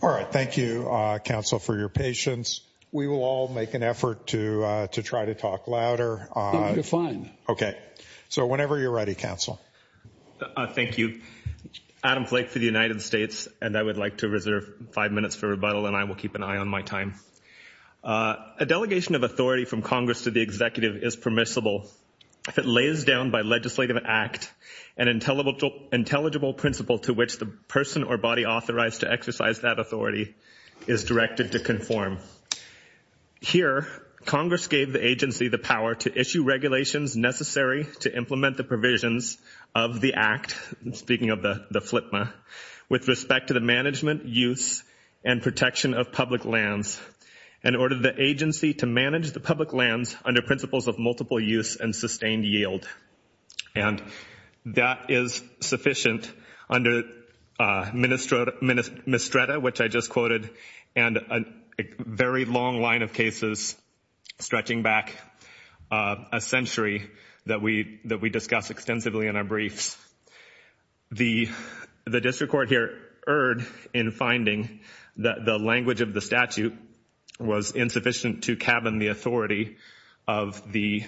All right, thank you, Council, for your patience. We will all make an effort to try to talk louder. I think you're fine. Okay. So whenever you're ready, Council. Thank you. Adam Flake for the United States, and I would like to reserve five minutes for rebuttal, and I will keep an eye on my time. A delegation of authority from Congress to the Executive is permissible if it lays down by legislative act an intelligible principle to which the person or body authorized to exercise that authority is directed to conform. Here, Congress gave the agency the power to issue regulations necessary to implement the provisions of the act, speaking of the FLIPMA, with respect to the management, use, and protection of public lands, and ordered the agency to manage the public lands under principles of multiple use and sustained yield. And that is sufficient under Ministrata, which I just quoted, and a very long line of cases stretching back a century that we discuss extensively in our briefs. The district court here erred in finding that the language of the statute was insufficient to cabin the authority of the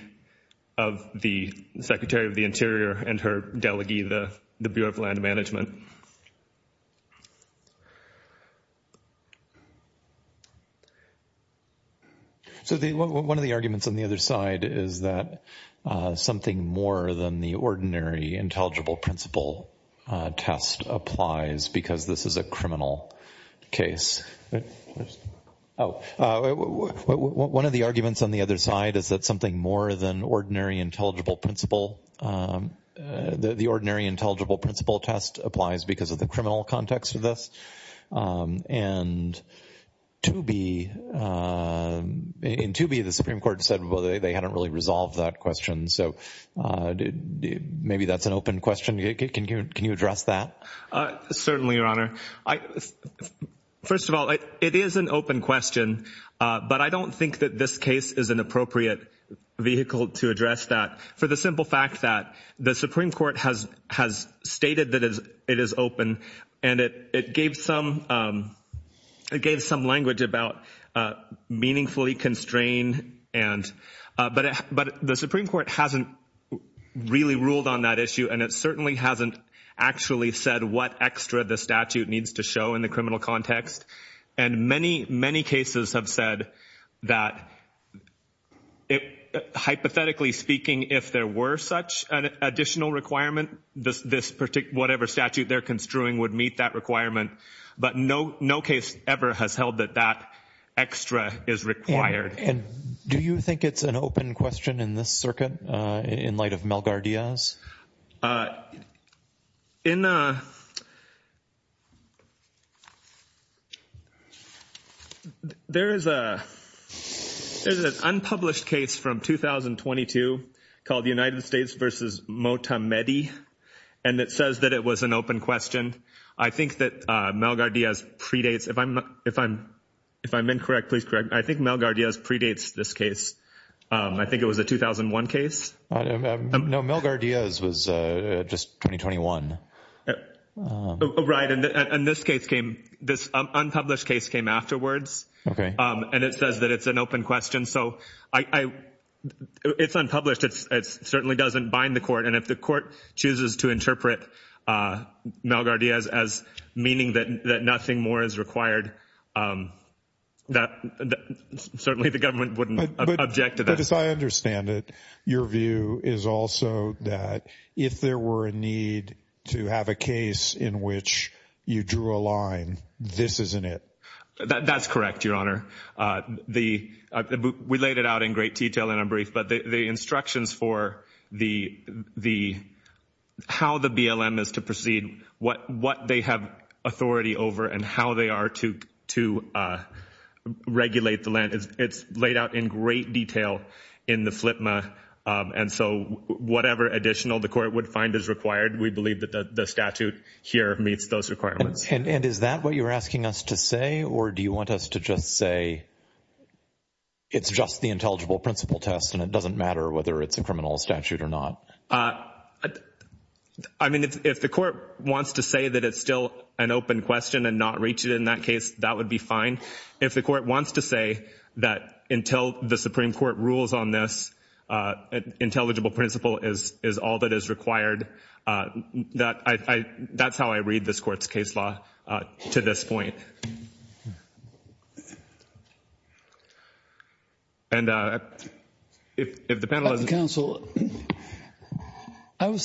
Secretary of the Interior and her delegee, the Bureau of Land Management. So one of the arguments on the other side is that something more than the ordinary intelligible principle test applies, because this is a criminal case. One of the arguments on the other side is that something more than the ordinary intelligible principle test applies, because of the criminal context of this. And in Tooby, the Supreme Court said they hadn't really resolved that question, so maybe that's an open question. Can you address that? Certainly, Your Honor. First of all, it is an open question, but I don't think that this case is an appropriate vehicle to address that, for the simple fact that the Supreme Court has stated that it is open, and it gave some language about meaningfully constrained, but the Supreme Court hasn't really ruled on that issue, and it certainly hasn't actually said what extra the statute needs to show in the criminal context. And many, many cases have said that, hypothetically speaking, if there were such an additional requirement, whatever statute they're construing would meet that requirement. But no case ever has held that that extra is required. And do you think it's an open question in this circuit, in light of Melgar-Diaz? There is an unpublished case from 2022 called United States v. Motamedi, and it says that it was an open question. I think that Melgar-Diaz predates. If I'm incorrect, please correct me. I think Melgar-Diaz predates this case. I think it was a 2001 case. No, Melgar-Diaz was just 2021. Right, and this case came, this unpublished case came afterwards, and it says that it's an open question. So it's unpublished. It certainly doesn't bind the court, and if the court chooses to interpret Melgar-Diaz as meaning that nothing more is required, certainly the government wouldn't object to that. But as I understand it, your view is also that if there were a need to have a case in which you drew a line, this isn't it. That's correct, Your Honor. We laid it out in great detail in a brief, but the instructions for how the BLM is to proceed, what they have authority over, and how they are to regulate the land, it's laid out in great detail in the FLPMA, and so whatever additional the court would find is required, we believe that the statute here meets those requirements. And is that what you're asking us to say, or do you want us to just say it's just the intelligible principle test and it doesn't matter whether it's a criminal statute or not? I mean, if the court wants to say that it's still an open question and not reach it in that case, that would be fine. If the court wants to say that until the Supreme Court rules on this, intelligible principle is all that is required, that's how I read this court's case law to this point. I was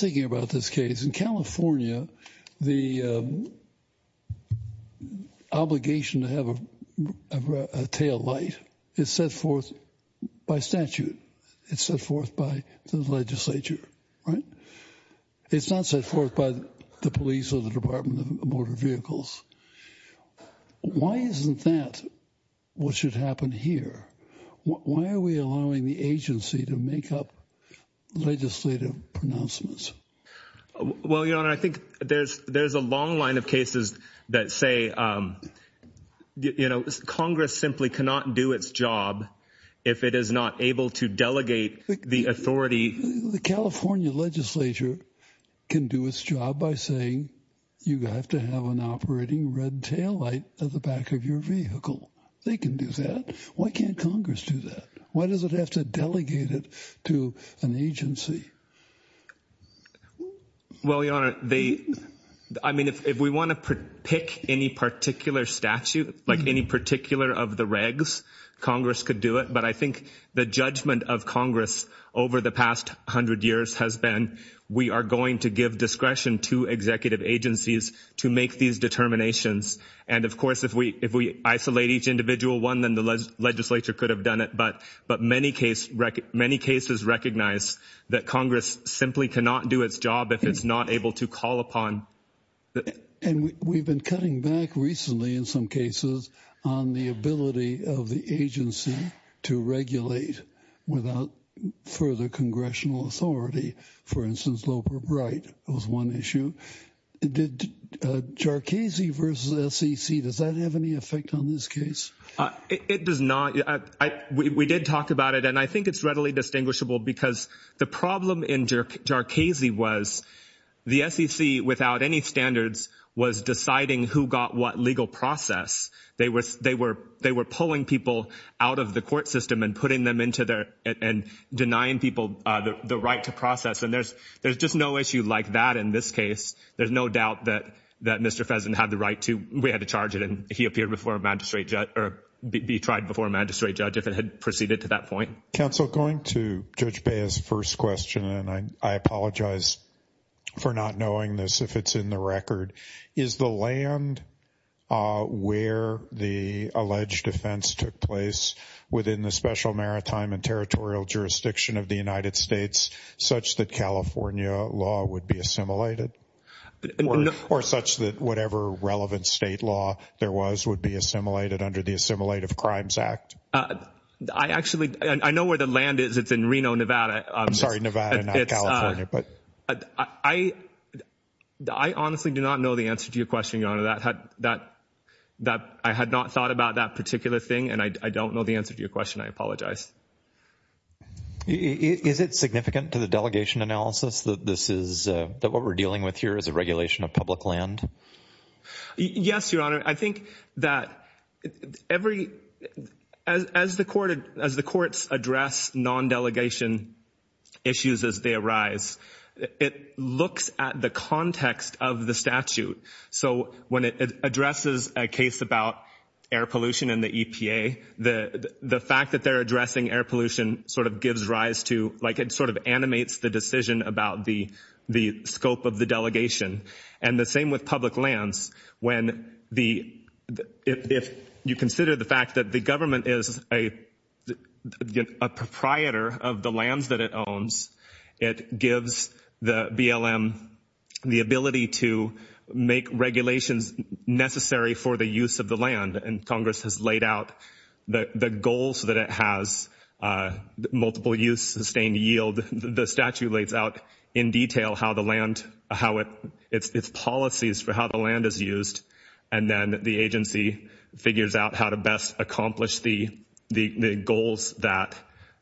thinking about this case. In California, the obligation to have a tail light is set forth by statute. It's set forth by the legislature, right? It's not set forth by the police or the Department of Motor Vehicles. Why isn't that what should happen here? Why are we allowing the agency to make up legislative pronouncements? Well, Your Honor, I think there's a long line of cases that say, you know, Congress simply cannot do its job if it is not able to delegate the authority. The California legislature can do its job by saying you have to have an operating red tail light at the back of your vehicle. They can do that. Why can't Congress do that? Why does it have to delegate it to an agency? Well, Your Honor, I mean, if we want to pick any particular statute, like any particular of the regs, Congress could do it. But I think the judgment of Congress over the past hundred years has been, we are going to give discretion to executive agencies to make these determinations. And of course, if we isolate each individual one, then the legislature could have done it. But but many cases, many cases recognize that Congress simply cannot do its job if it's not able to call upon. And we've been cutting back recently in some cases on the ability of the agency to regulate without further congressional authority. For instance, Loeb or Bright was one issue. Did Jarchese versus SEC, does that have any effect on this case? It does not. We did talk about it. And I think it's readily distinguishable because the problem in Jarchese was the SEC without any standards was deciding who got what legal process. They were they were they were pulling people out of the court system and putting them into there and denying people the right to process. And there's there's just no issue like that in this case. There's no doubt that that Mr. Pheasant had the right to. We had to charge it and he appeared before a magistrate judge or be tried before a magistrate judge if it had proceeded to that point. Counsel going to Judge Bay's first question, and I apologize for not knowing this. If it's in the record, is the land where the alleged offense took place within the special maritime and territorial jurisdiction of the United States such that California law would be assimilated or such that whatever relevant state law there was would be assimilated under the Assimilated Crimes Act? I actually I know where the land is. It's in Reno, Nevada. I'm sorry, Nevada, but I I honestly do not know the answer to your question on that, that that I had not thought about that particular thing. And I don't know the answer to your question. I apologize. Is it significant to the delegation analysis that this is that what we're dealing with here is a regulation of public land? Yes, Your Honor, I think that every as as the court as the courts address non delegation issues as they arise, it looks at the context of the statute. So when it addresses a case about air pollution in the EPA, the the fact that they're addressing air pollution sort of gives rise to like it sort of animates the decision about the the scope of the delegation. And the same with public lands. When the if you consider the fact that the government is a proprietor of the lands that it owns, it gives the BLM the ability to make regulations necessary for the use of the land. And Congress has laid out the goals that it has multiple use, sustained yield. The statute lays out in detail how the land, how its policies for how the land is used. And then the agency figures out how to best accomplish the the goals that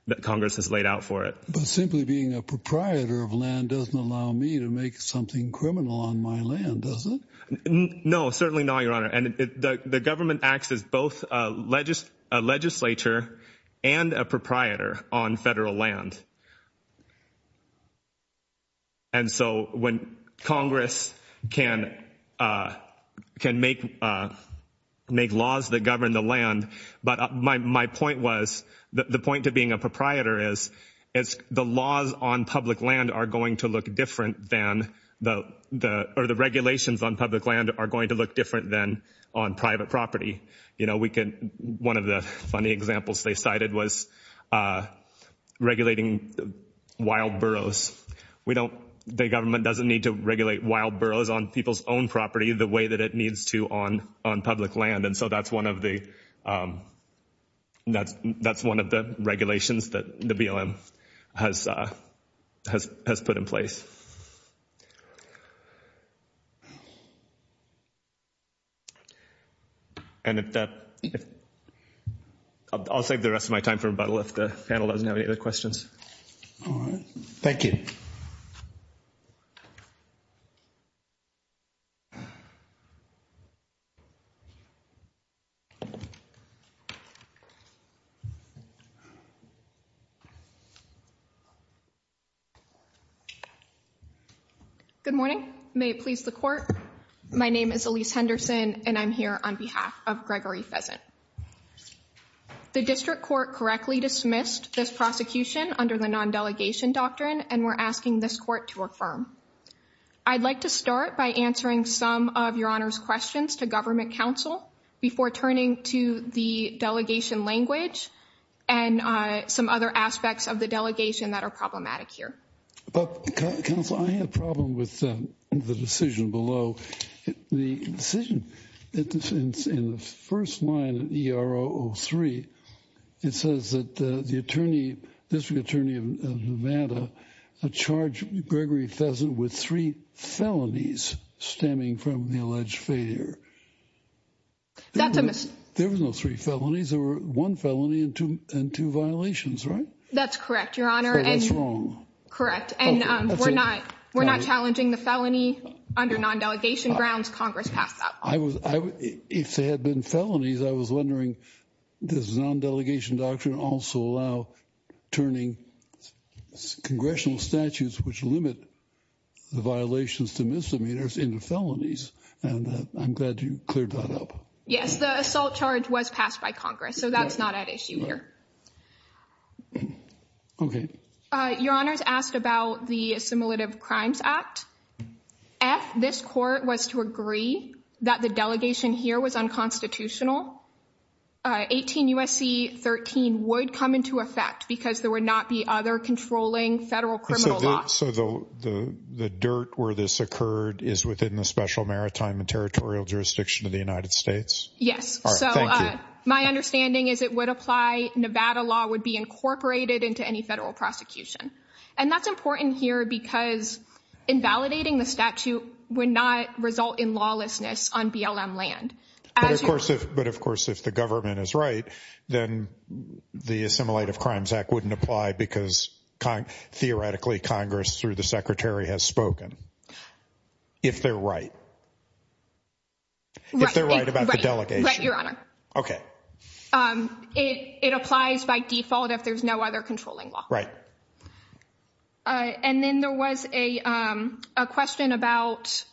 that Congress has laid out for it. Simply being a proprietor of land doesn't allow me to make something criminal on my land, does it? No, certainly not, Your Honor. And the government acts as both a legislature and a proprietor on federal land. And so when Congress can can make make laws that govern the land. But my point was the point of being a proprietor is is the laws on public land are going to look different than the the or the regulations on public land are going to look different than on private property. You know, we can one of the funny examples they cited was regulating wild burrows. We don't the government doesn't need to regulate wild burrows on people's own property the way that it needs to on on public land. And so that's one of the that's that's one of the regulations that the BLM has has put in place. And I'll save the rest of my time for rebuttal if the panel doesn't have any other questions. All right. Thank you. Good morning. May it please the court. My name is Elise Henderson, and I'm here on behalf of Gregory Pheasant. The district court correctly dismissed this prosecution under the non delegation doctrine, and we're asking this court to affirm. I'd like to start by answering some of your honor's questions to government counsel before turning to the delegation language and some other aspects of the delegation that are problematic here. But counsel, I have a problem with the decision below the decision in the first line of the R.O. three. It says that the attorney, district attorney of Nevada, a charge, Gregory Pheasant with three felonies stemming from the alleged failure. That's a there was no three felonies or one felony and two and two violations. Right. That's correct, your honor. And that's wrong. Correct. And we're not we're not challenging the felony under non delegation grounds. Congress passed up. I was if there had been felonies, I was wondering, does non delegation doctrine also allow turning congressional statutes, which limit the violations to misdemeanors in the felonies? And I'm glad you cleared that up. Yes, the assault charge was passed by Congress, so that's not at issue here. OK. Your honor's asked about the assimilative crimes act. If this court was to agree that the delegation here was unconstitutional, 18 U.S.C. 13 would come into effect because there would not be other controlling federal. So the dirt where this occurred is within the special maritime and territorial jurisdiction of the United States. Yes. So my understanding is it would apply. Nevada law would be incorporated into any federal prosecution. And that's important here because invalidating the statute would not result in lawlessness on BLM land. But of course, if but of course, if the government is right, then the assimilative crimes act wouldn't apply because theoretically, Congress through the secretary has spoken. If they're right. If they're right about the delegation, your honor. OK, it applies by default if there's no other controlling law. Right. And then there was a question about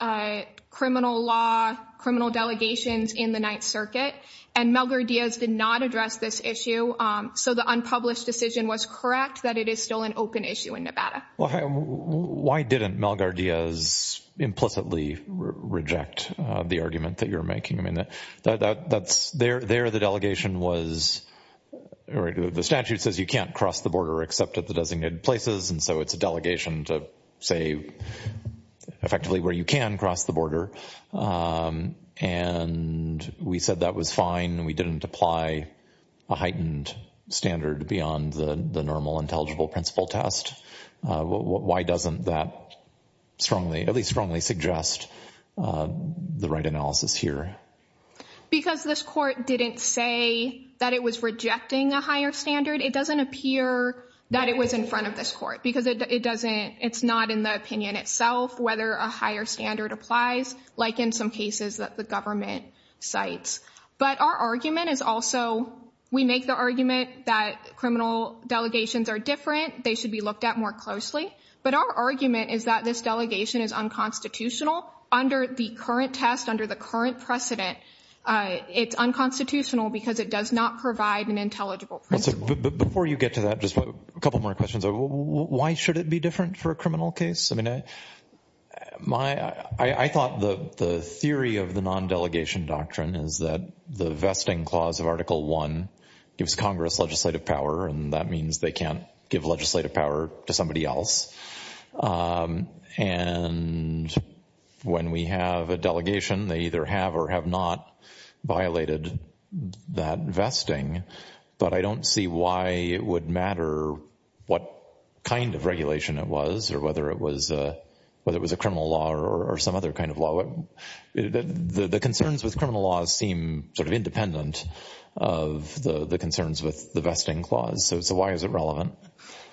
criminal law, criminal delegations in the Ninth Circuit. And Melgar Diaz did not address this issue. So the unpublished decision was correct that it is still an open issue in Nevada. Why didn't Melgar Diaz implicitly reject the argument that you're making? I mean, that's there. There the delegation was or the statute says you can't cross the border except at the designated places. And so it's a delegation to say effectively where you can cross the border. And we said that was fine. We didn't apply a heightened standard beyond the normal intelligible principle test. Why doesn't that strongly, at least strongly suggest the right analysis here? Because this court didn't say that it was rejecting a higher standard. It doesn't appear that it was in front of this court because it doesn't it's not in the opinion itself whether a higher standard applies, like in some cases that the government cites. But our argument is also we make the argument that criminal delegations are different. They should be looked at more closely. But our argument is that this delegation is unconstitutional under the current test, under the current precedent. It's unconstitutional because it does not provide an intelligible. Before you get to that, just a couple more questions. Why should it be different for a criminal case? I mean, my I thought the theory of the non-delegation doctrine is that the vesting clause of Article One gives Congress legislative power. And that means they can't give legislative power to somebody else. And when we have a delegation, they either have or have not violated that vesting. But I don't see why it would matter what kind of regulation it was or whether it was whether it was a criminal law or some other kind of law. The concerns with criminal laws seem sort of independent of the concerns with the vesting clause. So why is it relevant?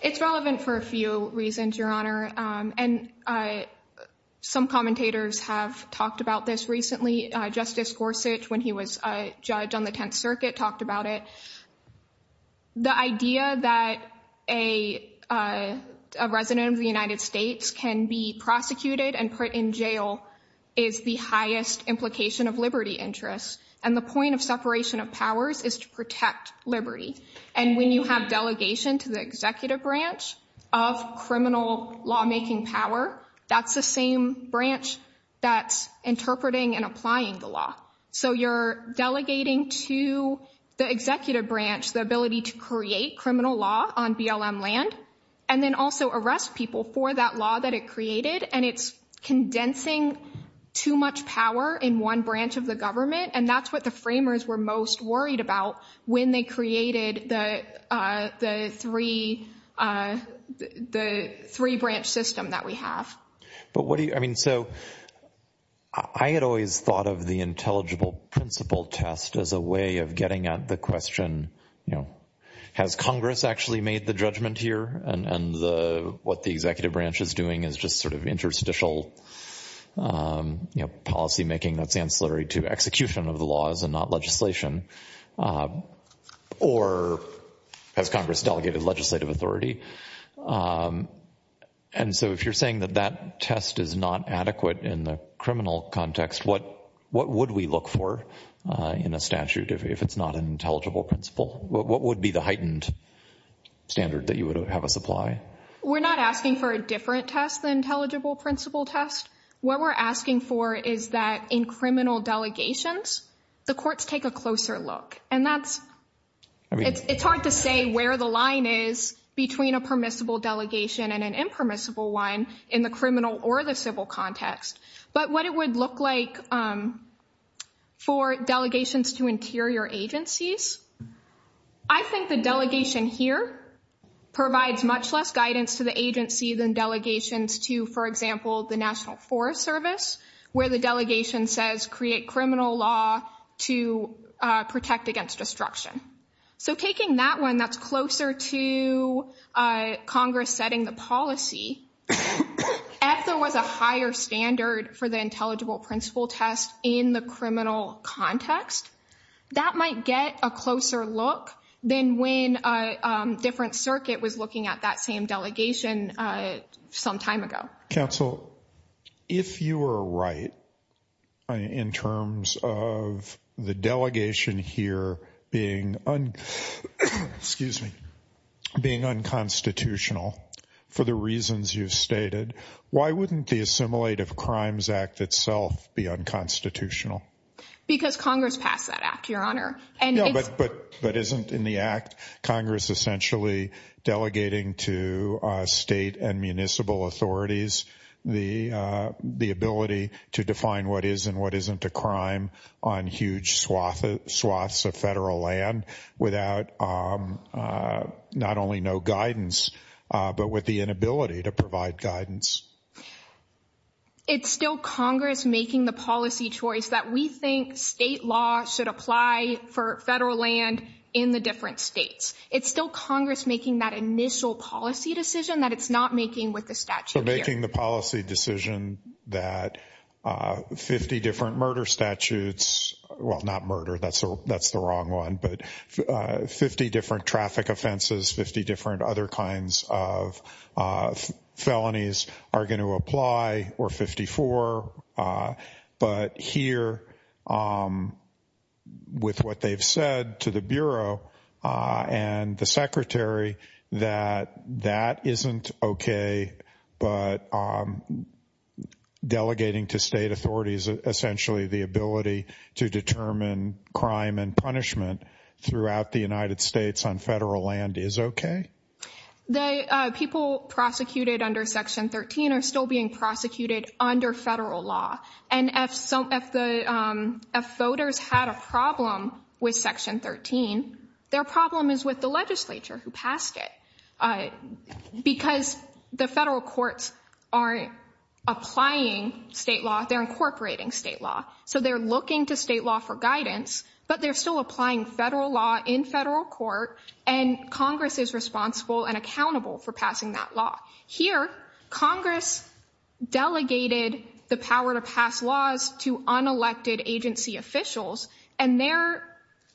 It's relevant for a few reasons, Your Honor. And some commentators have talked about this recently. Justice Gorsuch, when he was a judge on the Tenth Circuit, talked about it. The idea that a resident of the United States can be prosecuted and put in jail is the highest implication of liberty interests. And the point of separation of powers is to protect liberty. And when you have delegation to the executive branch of criminal lawmaking power, that's the same branch that's interpreting and applying the law. So you're delegating to the executive branch the ability to create criminal law on BLM land and then also arrest people for that law that it created. And it's condensing too much power in one branch of the government. And that's what the framers were most worried about when they created the three branch system that we have. But what do you, I mean, so I had always thought of the intelligible principle test as a way of getting at the question, you know, has Congress actually made the judgment here and what the executive branch is doing is just sort of interstitial policymaking that's ancillary to execution of the laws and not legislation? Or has Congress delegated legislative authority? And so if you're saying that that test is not adequate in the criminal context, what would we look for in a statute if it's not an intelligible principle? What would be the heightened standard that you would have us apply? We're not asking for a different test than intelligible principle test. What we're asking for is that in criminal delegations, the courts take a closer look. And that's, it's hard to say where the line is between a permissible delegation and an impermissible one in the criminal or the civil context. But what it would look like for delegations to interior agencies, I think the delegation here provides much less guidance to the agency than delegations to, for example, the National Forest Service, where the delegation says create criminal law to protect against destruction. So taking that one that's closer to Congress setting the policy, if there was a higher standard for the intelligible principle test in the criminal context, that might get a closer look than when a different circuit was looking at that same delegation some time ago. Counsel, if you were right in terms of the delegation here being, excuse me, being unconstitutional for the reasons you've stated, why wouldn't the Assimilative Crimes Act itself be unconstitutional? Because Congress passed that act, Your Honor. But isn't in the act, Congress essentially delegating to state and municipal authorities the ability to define what is and what isn't a crime on huge swaths of federal land without not only no guidance, but with the inability to provide guidance. It's still Congress making the policy choice that we think state law should apply for federal land in the different states. It's still Congress making that initial policy decision that it's not making with the statute here. It's still Congress making the policy decision that 50 different murder statutes, well not murder, that's the wrong one, but 50 different traffic offenses, 50 different other kinds of felonies are going to apply or 54. But here with what they've said to the Bureau and the Secretary that that isn't okay, but delegating to state authorities essentially the ability to determine crime and punishment throughout the United States on federal land is okay? The people prosecuted under Section 13 are still being prosecuted under federal law. And if voters had a problem with Section 13, their problem is with the legislature who passed it. Because the federal courts aren't applying state law, they're incorporating state law. So they're looking to state law for guidance, but they're still applying federal law in federal court. And Congress is responsible and accountable for passing that law. Here, Congress delegated the power to pass laws to unelected agency officials, and they're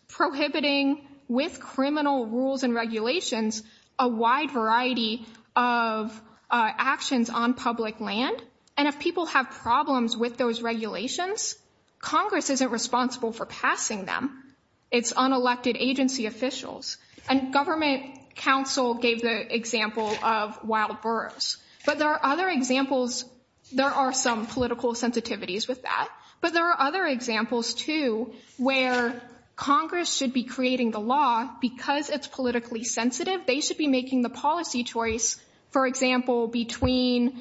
prohibiting with criminal rules and regulations a wide variety of actions on public land. And if people have problems with those regulations, Congress isn't responsible for passing them. It's unelected agency officials. And government counsel gave the example of wild boars. But there are other examples. There are some political sensitivities with that. But there are other examples, too, where Congress should be creating the law because it's politically sensitive. They should be making the policy choice, for example, between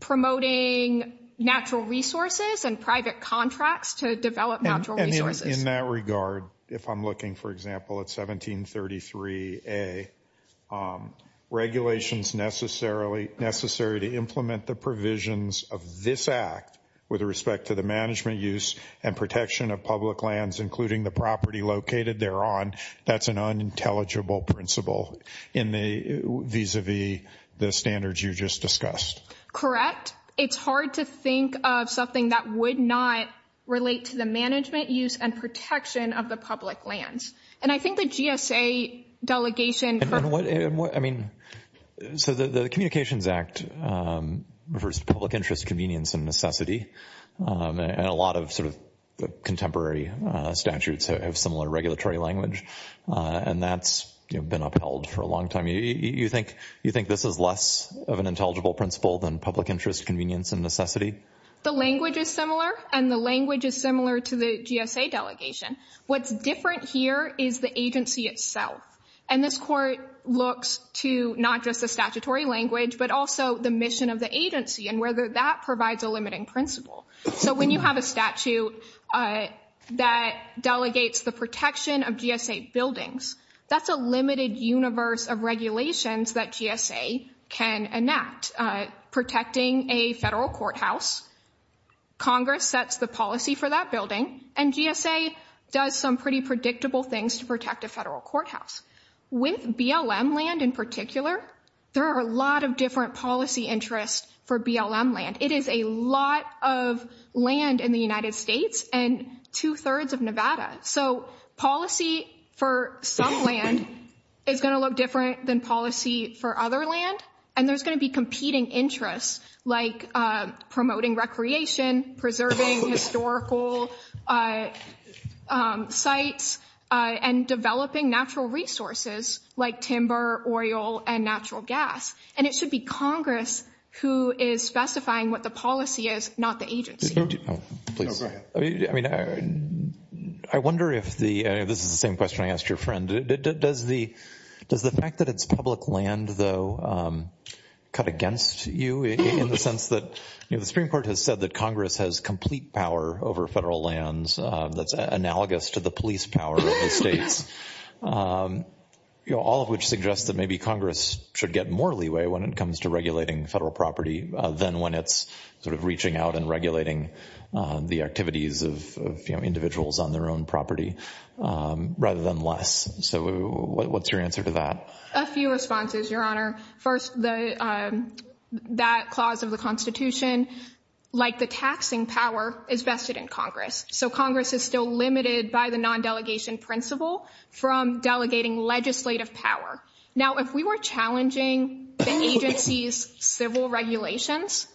promoting natural resources and private contracts to develop natural resources. In that regard, if I'm looking, for example, at 1733A, regulations necessary to implement the provisions of this Act with respect to the management use and protection of public lands, including the property located thereon, that's an unintelligible principle vis-à-vis the standards you just discussed. Correct. It's hard to think of something that would not relate to the management use and protection of the public lands. And I think the GSA delegation… I mean, so the Communications Act refers to public interest, convenience, and necessity. And a lot of sort of contemporary statutes have similar regulatory language. And that's been upheld for a long time. You think this is less of an intelligible principle than public interest, convenience, and necessity? The language is similar, and the language is similar to the GSA delegation. What's different here is the agency itself. And this Court looks to not just the statutory language but also the mission of the agency and whether that provides a limiting principle. So when you have a statute that delegates the protection of GSA buildings, that's a limited universe of regulations that GSA can enact. Protecting a federal courthouse, Congress sets the policy for that building, and GSA does some pretty predictable things to protect a federal courthouse. With BLM land in particular, there are a lot of different policy interests for BLM land. It is a lot of land in the United States and two-thirds of Nevada. So policy for some land is going to look different than policy for other land, and there's going to be competing interests like promoting recreation, preserving historical sites, and developing natural resources like timber, oil, and natural gas. And it should be Congress who is specifying what the policy is, not the agency. I wonder if the ‑‑ this is the same question I asked your friend. Does the fact that it's public land, though, cut against you in the sense that the Supreme Court has said that Congress has complete power over federal lands that's analogous to the police power of the states, all of which suggests that maybe Congress should get more leeway when it comes to regulating federal property than when it's sort of reaching out and regulating the activities of individuals on their own property rather than less. So what's your answer to that? A few responses, Your Honor. First, that clause of the Constitution, like the taxing power, is vested in Congress. So Congress is still limited by the nondelegation principle from delegating legislative power. Now, if we were challenging the agency's civil regulations,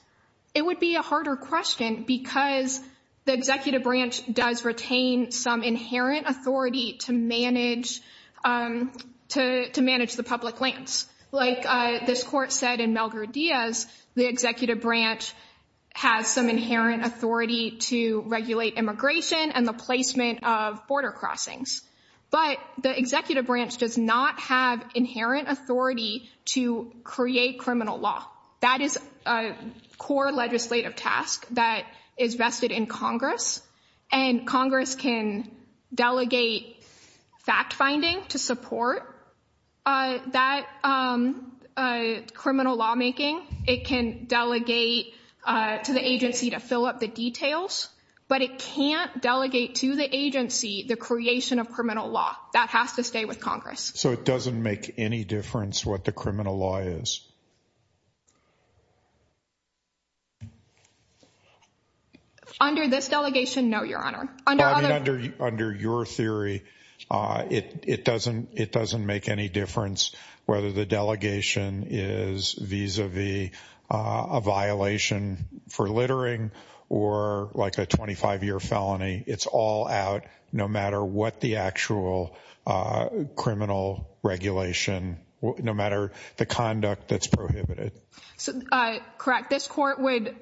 it would be a harder question because the executive branch does retain some inherent authority to manage the public lands. Like this court said in Melgur Diaz, the executive branch has some inherent authority to regulate immigration and the placement of border crossings. But the executive branch does not have inherent authority to create criminal law. That is a core legislative task that is vested in Congress. And Congress can delegate fact-finding to support that criminal lawmaking. It can delegate to the agency to fill up the details. But it can't delegate to the agency the creation of criminal law. That has to stay with Congress. So it doesn't make any difference what the criminal law is? Under this delegation, no, Your Honor. Under your theory, it doesn't make any difference whether the delegation is vis-a-vis a violation for littering or like a 25-year felony. It's all out no matter what the actual criminal regulation, no matter the conduct that's prohibited. Correct. This court would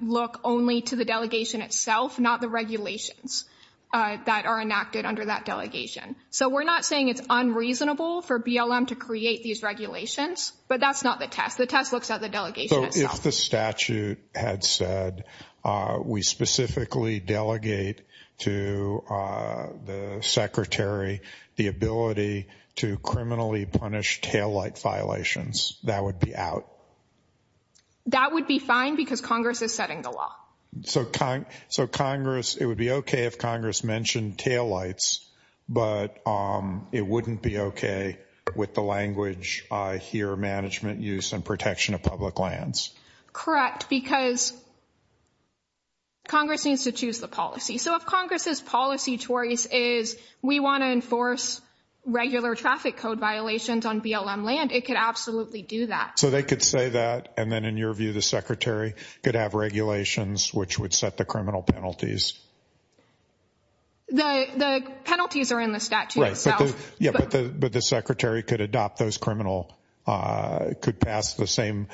look only to the delegation itself, not the regulations that are enacted under that delegation. So we're not saying it's unreasonable for BLM to create these regulations, but that's not the test. The test looks at the delegation itself. If the statute had said we specifically delegate to the Secretary the ability to criminally punish taillight violations, that would be out. That would be fine because Congress is setting the law. So Congress, it would be okay if Congress mentioned taillights, but it wouldn't be okay with the language here, management use and protection of public lands. Correct, because Congress needs to choose the policy. So if Congress's policy choice is we want to enforce regular traffic code violations on BLM land, it could absolutely do that. So they could say that, and then in your view, the Secretary could have regulations which would set the criminal penalties? The penalties are in the statute itself. Right, but the Secretary could adopt those criminal, could pass the same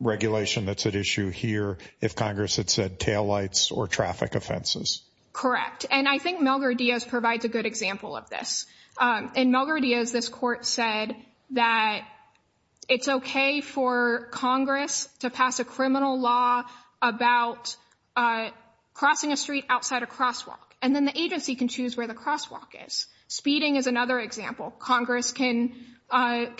regulation that's at issue here if Congress had said taillights or traffic offenses. Correct. And I think Melgar-Diaz provides a good example of this. In Melgar-Diaz, this court said that it's okay for Congress to pass a criminal law about crossing a street outside a crosswalk, and then the agency can choose where the crosswalk is. Speeding is another example. Congress can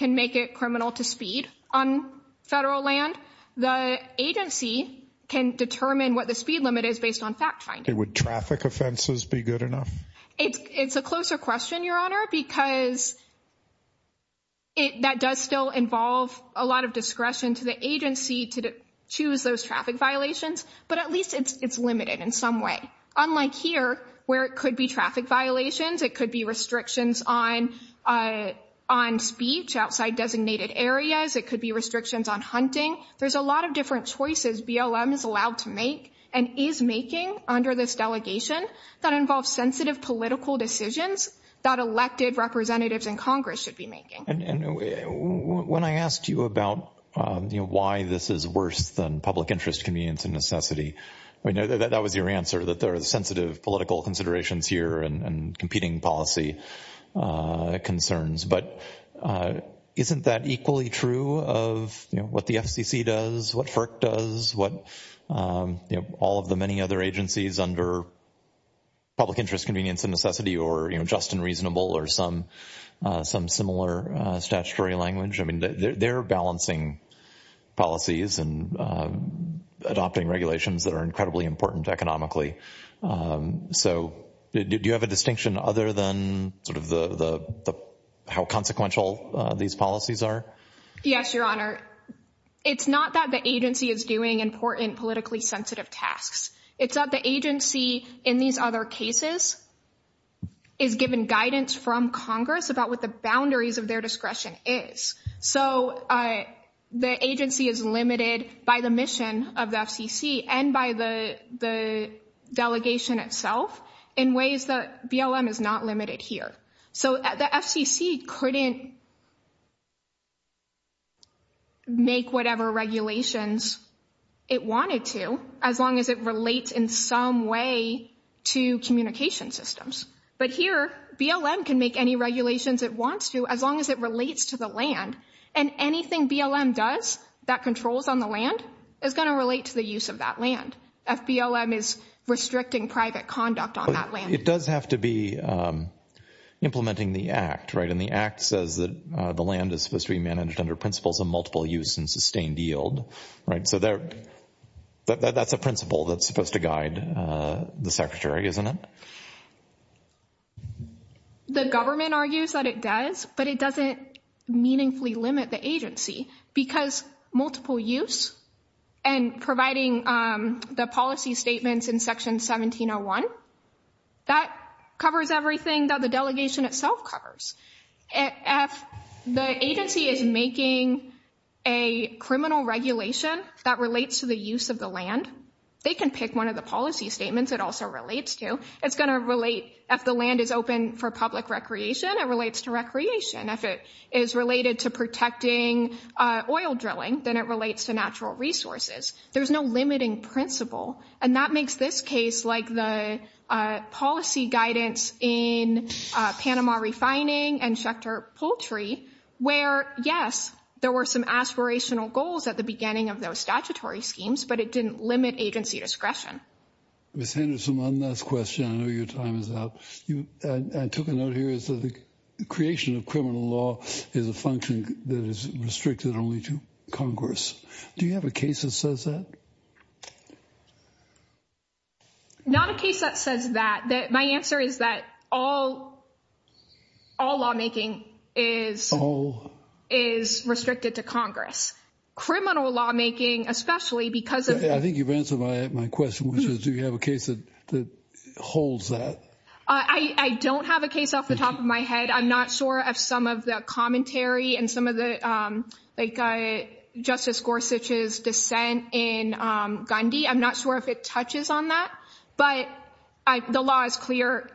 make it criminal to speed on federal land. The agency can determine what the speed limit is based on fact-finding. Would traffic offenses be good enough? It's a closer question, Your Honor, because that does still involve a lot of discretion to the agency to choose those traffic violations, but at least it's limited in some way. Unlike here, where it could be traffic violations, it could be restrictions on speech outside designated areas. It could be restrictions on hunting. There's a lot of different choices BLM is allowed to make and is making under this delegation that involves sensitive political decisions that elected representatives in Congress should be making. And when I asked you about, you know, why this is worse than public interest convenience and necessity, that was your answer, that there are sensitive political considerations here and competing policy concerns. But isn't that equally true of what the FCC does, what FERC does, what all of the many other agencies under public interest convenience and necessity or just and reasonable or some similar statutory language? I mean, they're balancing policies and adopting regulations that are incredibly important economically. So do you have a distinction other than sort of how consequential these policies are? Yes, Your Honor. It's not that the agency is doing important politically sensitive tasks. It's that the agency in these other cases is given guidance from Congress about what the boundaries of their discretion is. So the agency is limited by the mission of the FCC and by the delegation itself in ways that BLM is not limited here. So the FCC couldn't make whatever regulations it wanted to as long as it relates in some way to communication systems. But here, BLM can make any regulations it wants to as long as it relates to the land. And anything BLM does that controls on the land is going to relate to the use of that land. If BLM is restricting private conduct on that land. It does have to be implementing the Act, right? And the Act says that the land is supposed to be managed under principles of multiple use and sustained yield. So that's a principle that's supposed to guide the Secretary, isn't it? The government argues that it does, but it doesn't meaningfully limit the agency. Because multiple use and providing the policy statements in Section 1701, that covers everything that the delegation itself covers. If the agency is making a criminal regulation that relates to the use of the land, they can pick one of the policy statements it also relates to. If the land is open for public recreation, it relates to recreation. If it is related to protecting oil drilling, then it relates to natural resources. There's no limiting principle. And that makes this case like the policy guidance in Panama refining and Schechter poultry. Where, yes, there were some aspirational goals at the beginning of those statutory schemes. But it didn't limit agency discretion. Ms. Henderson, one last question. I know your time is up. I took a note here is that the creation of criminal law is a function that is restricted only to Congress. Do you have a case that says that? Not a case that says that. My answer is that all lawmaking is restricted to Congress. Criminal lawmaking, especially because of... I think you've answered my question, which is do you have a case that holds that? I don't have a case off the top of my head. I'm not sure of some of the commentary and some of Justice Gorsuch's dissent in Gandhi. I'm not sure if it touches on that. But the law is clear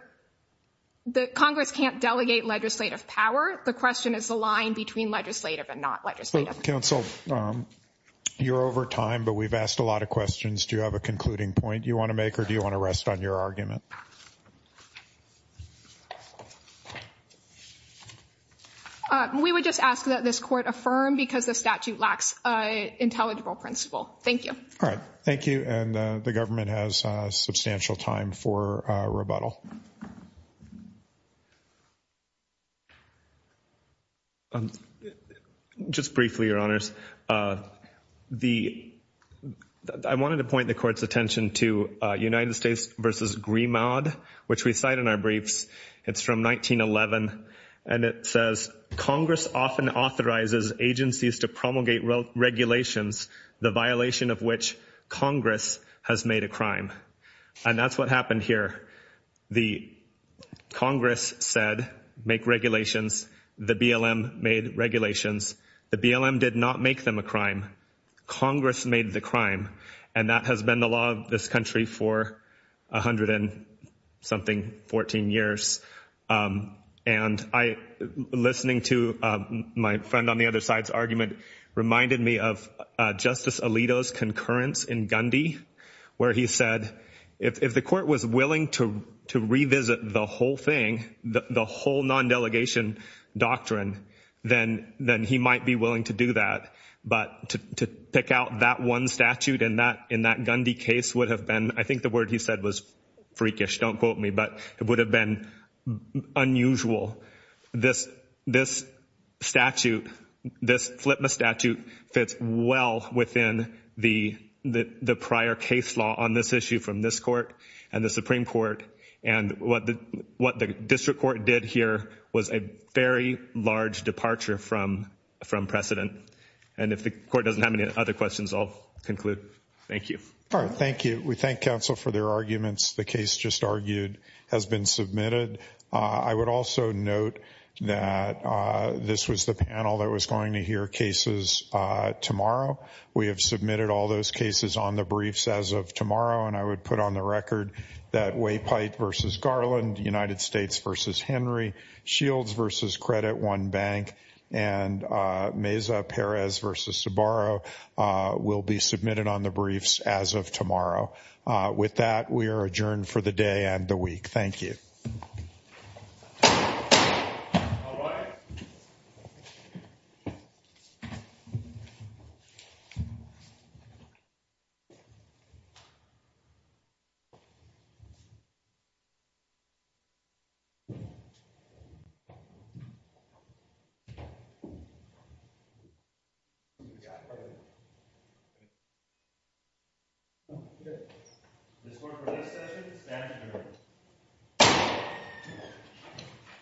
that Congress can't delegate legislative power. The question is the line between legislative and not legislative. Counsel, you're over time, but we've asked a lot of questions. Do you have a concluding point you want to make or do you want to rest on your argument? We would just ask that this court affirm because the statute lacks an intelligible principle. Thank you. All right. Thank you. And the government has substantial time for rebuttal. Just briefly, Your Honors, I wanted to point the court's attention to United States v. Grimaud, which we cite in our briefs. It's from 1911, and it says, Congress often authorizes agencies to promulgate regulations, the violation of which Congress has made a crime. And that's what happened here. The Congress said make regulations. The BLM made regulations. The BLM did not make them a crime. Congress made the crime. And that has been the law of this country for 100 and something, 14 years. And listening to my friend on the other side's argument reminded me of Justice Alito's concurrence in Gandhi, where he said if the court was willing to revisit the whole thing, the whole non-delegation doctrine, then he might be willing to do that. But to pick out that one statute in that Gandhi case would have been, I think the word he said was freakish, don't quote me, but it would have been unusual. This statute, this FLPMA statute, fits well within the prior case law on this issue from this court and the Supreme Court. And what the district court did here was a very large departure from precedent. And if the court doesn't have any other questions, I'll conclude. Thank you. All right. Thank you. We thank counsel for their arguments. The case just argued has been submitted. I would also note that this was the panel that was going to hear cases tomorrow. We have submitted all those cases on the briefs as of tomorrow, and I would put on the record that Waypite versus Garland, United States versus Henry, Shields versus Credit One Bank, and Meza-Perez versus Sbarro will be submitted on the briefs as of tomorrow. With that, we are adjourned for the day and the week. Thank you. All right. Thank you.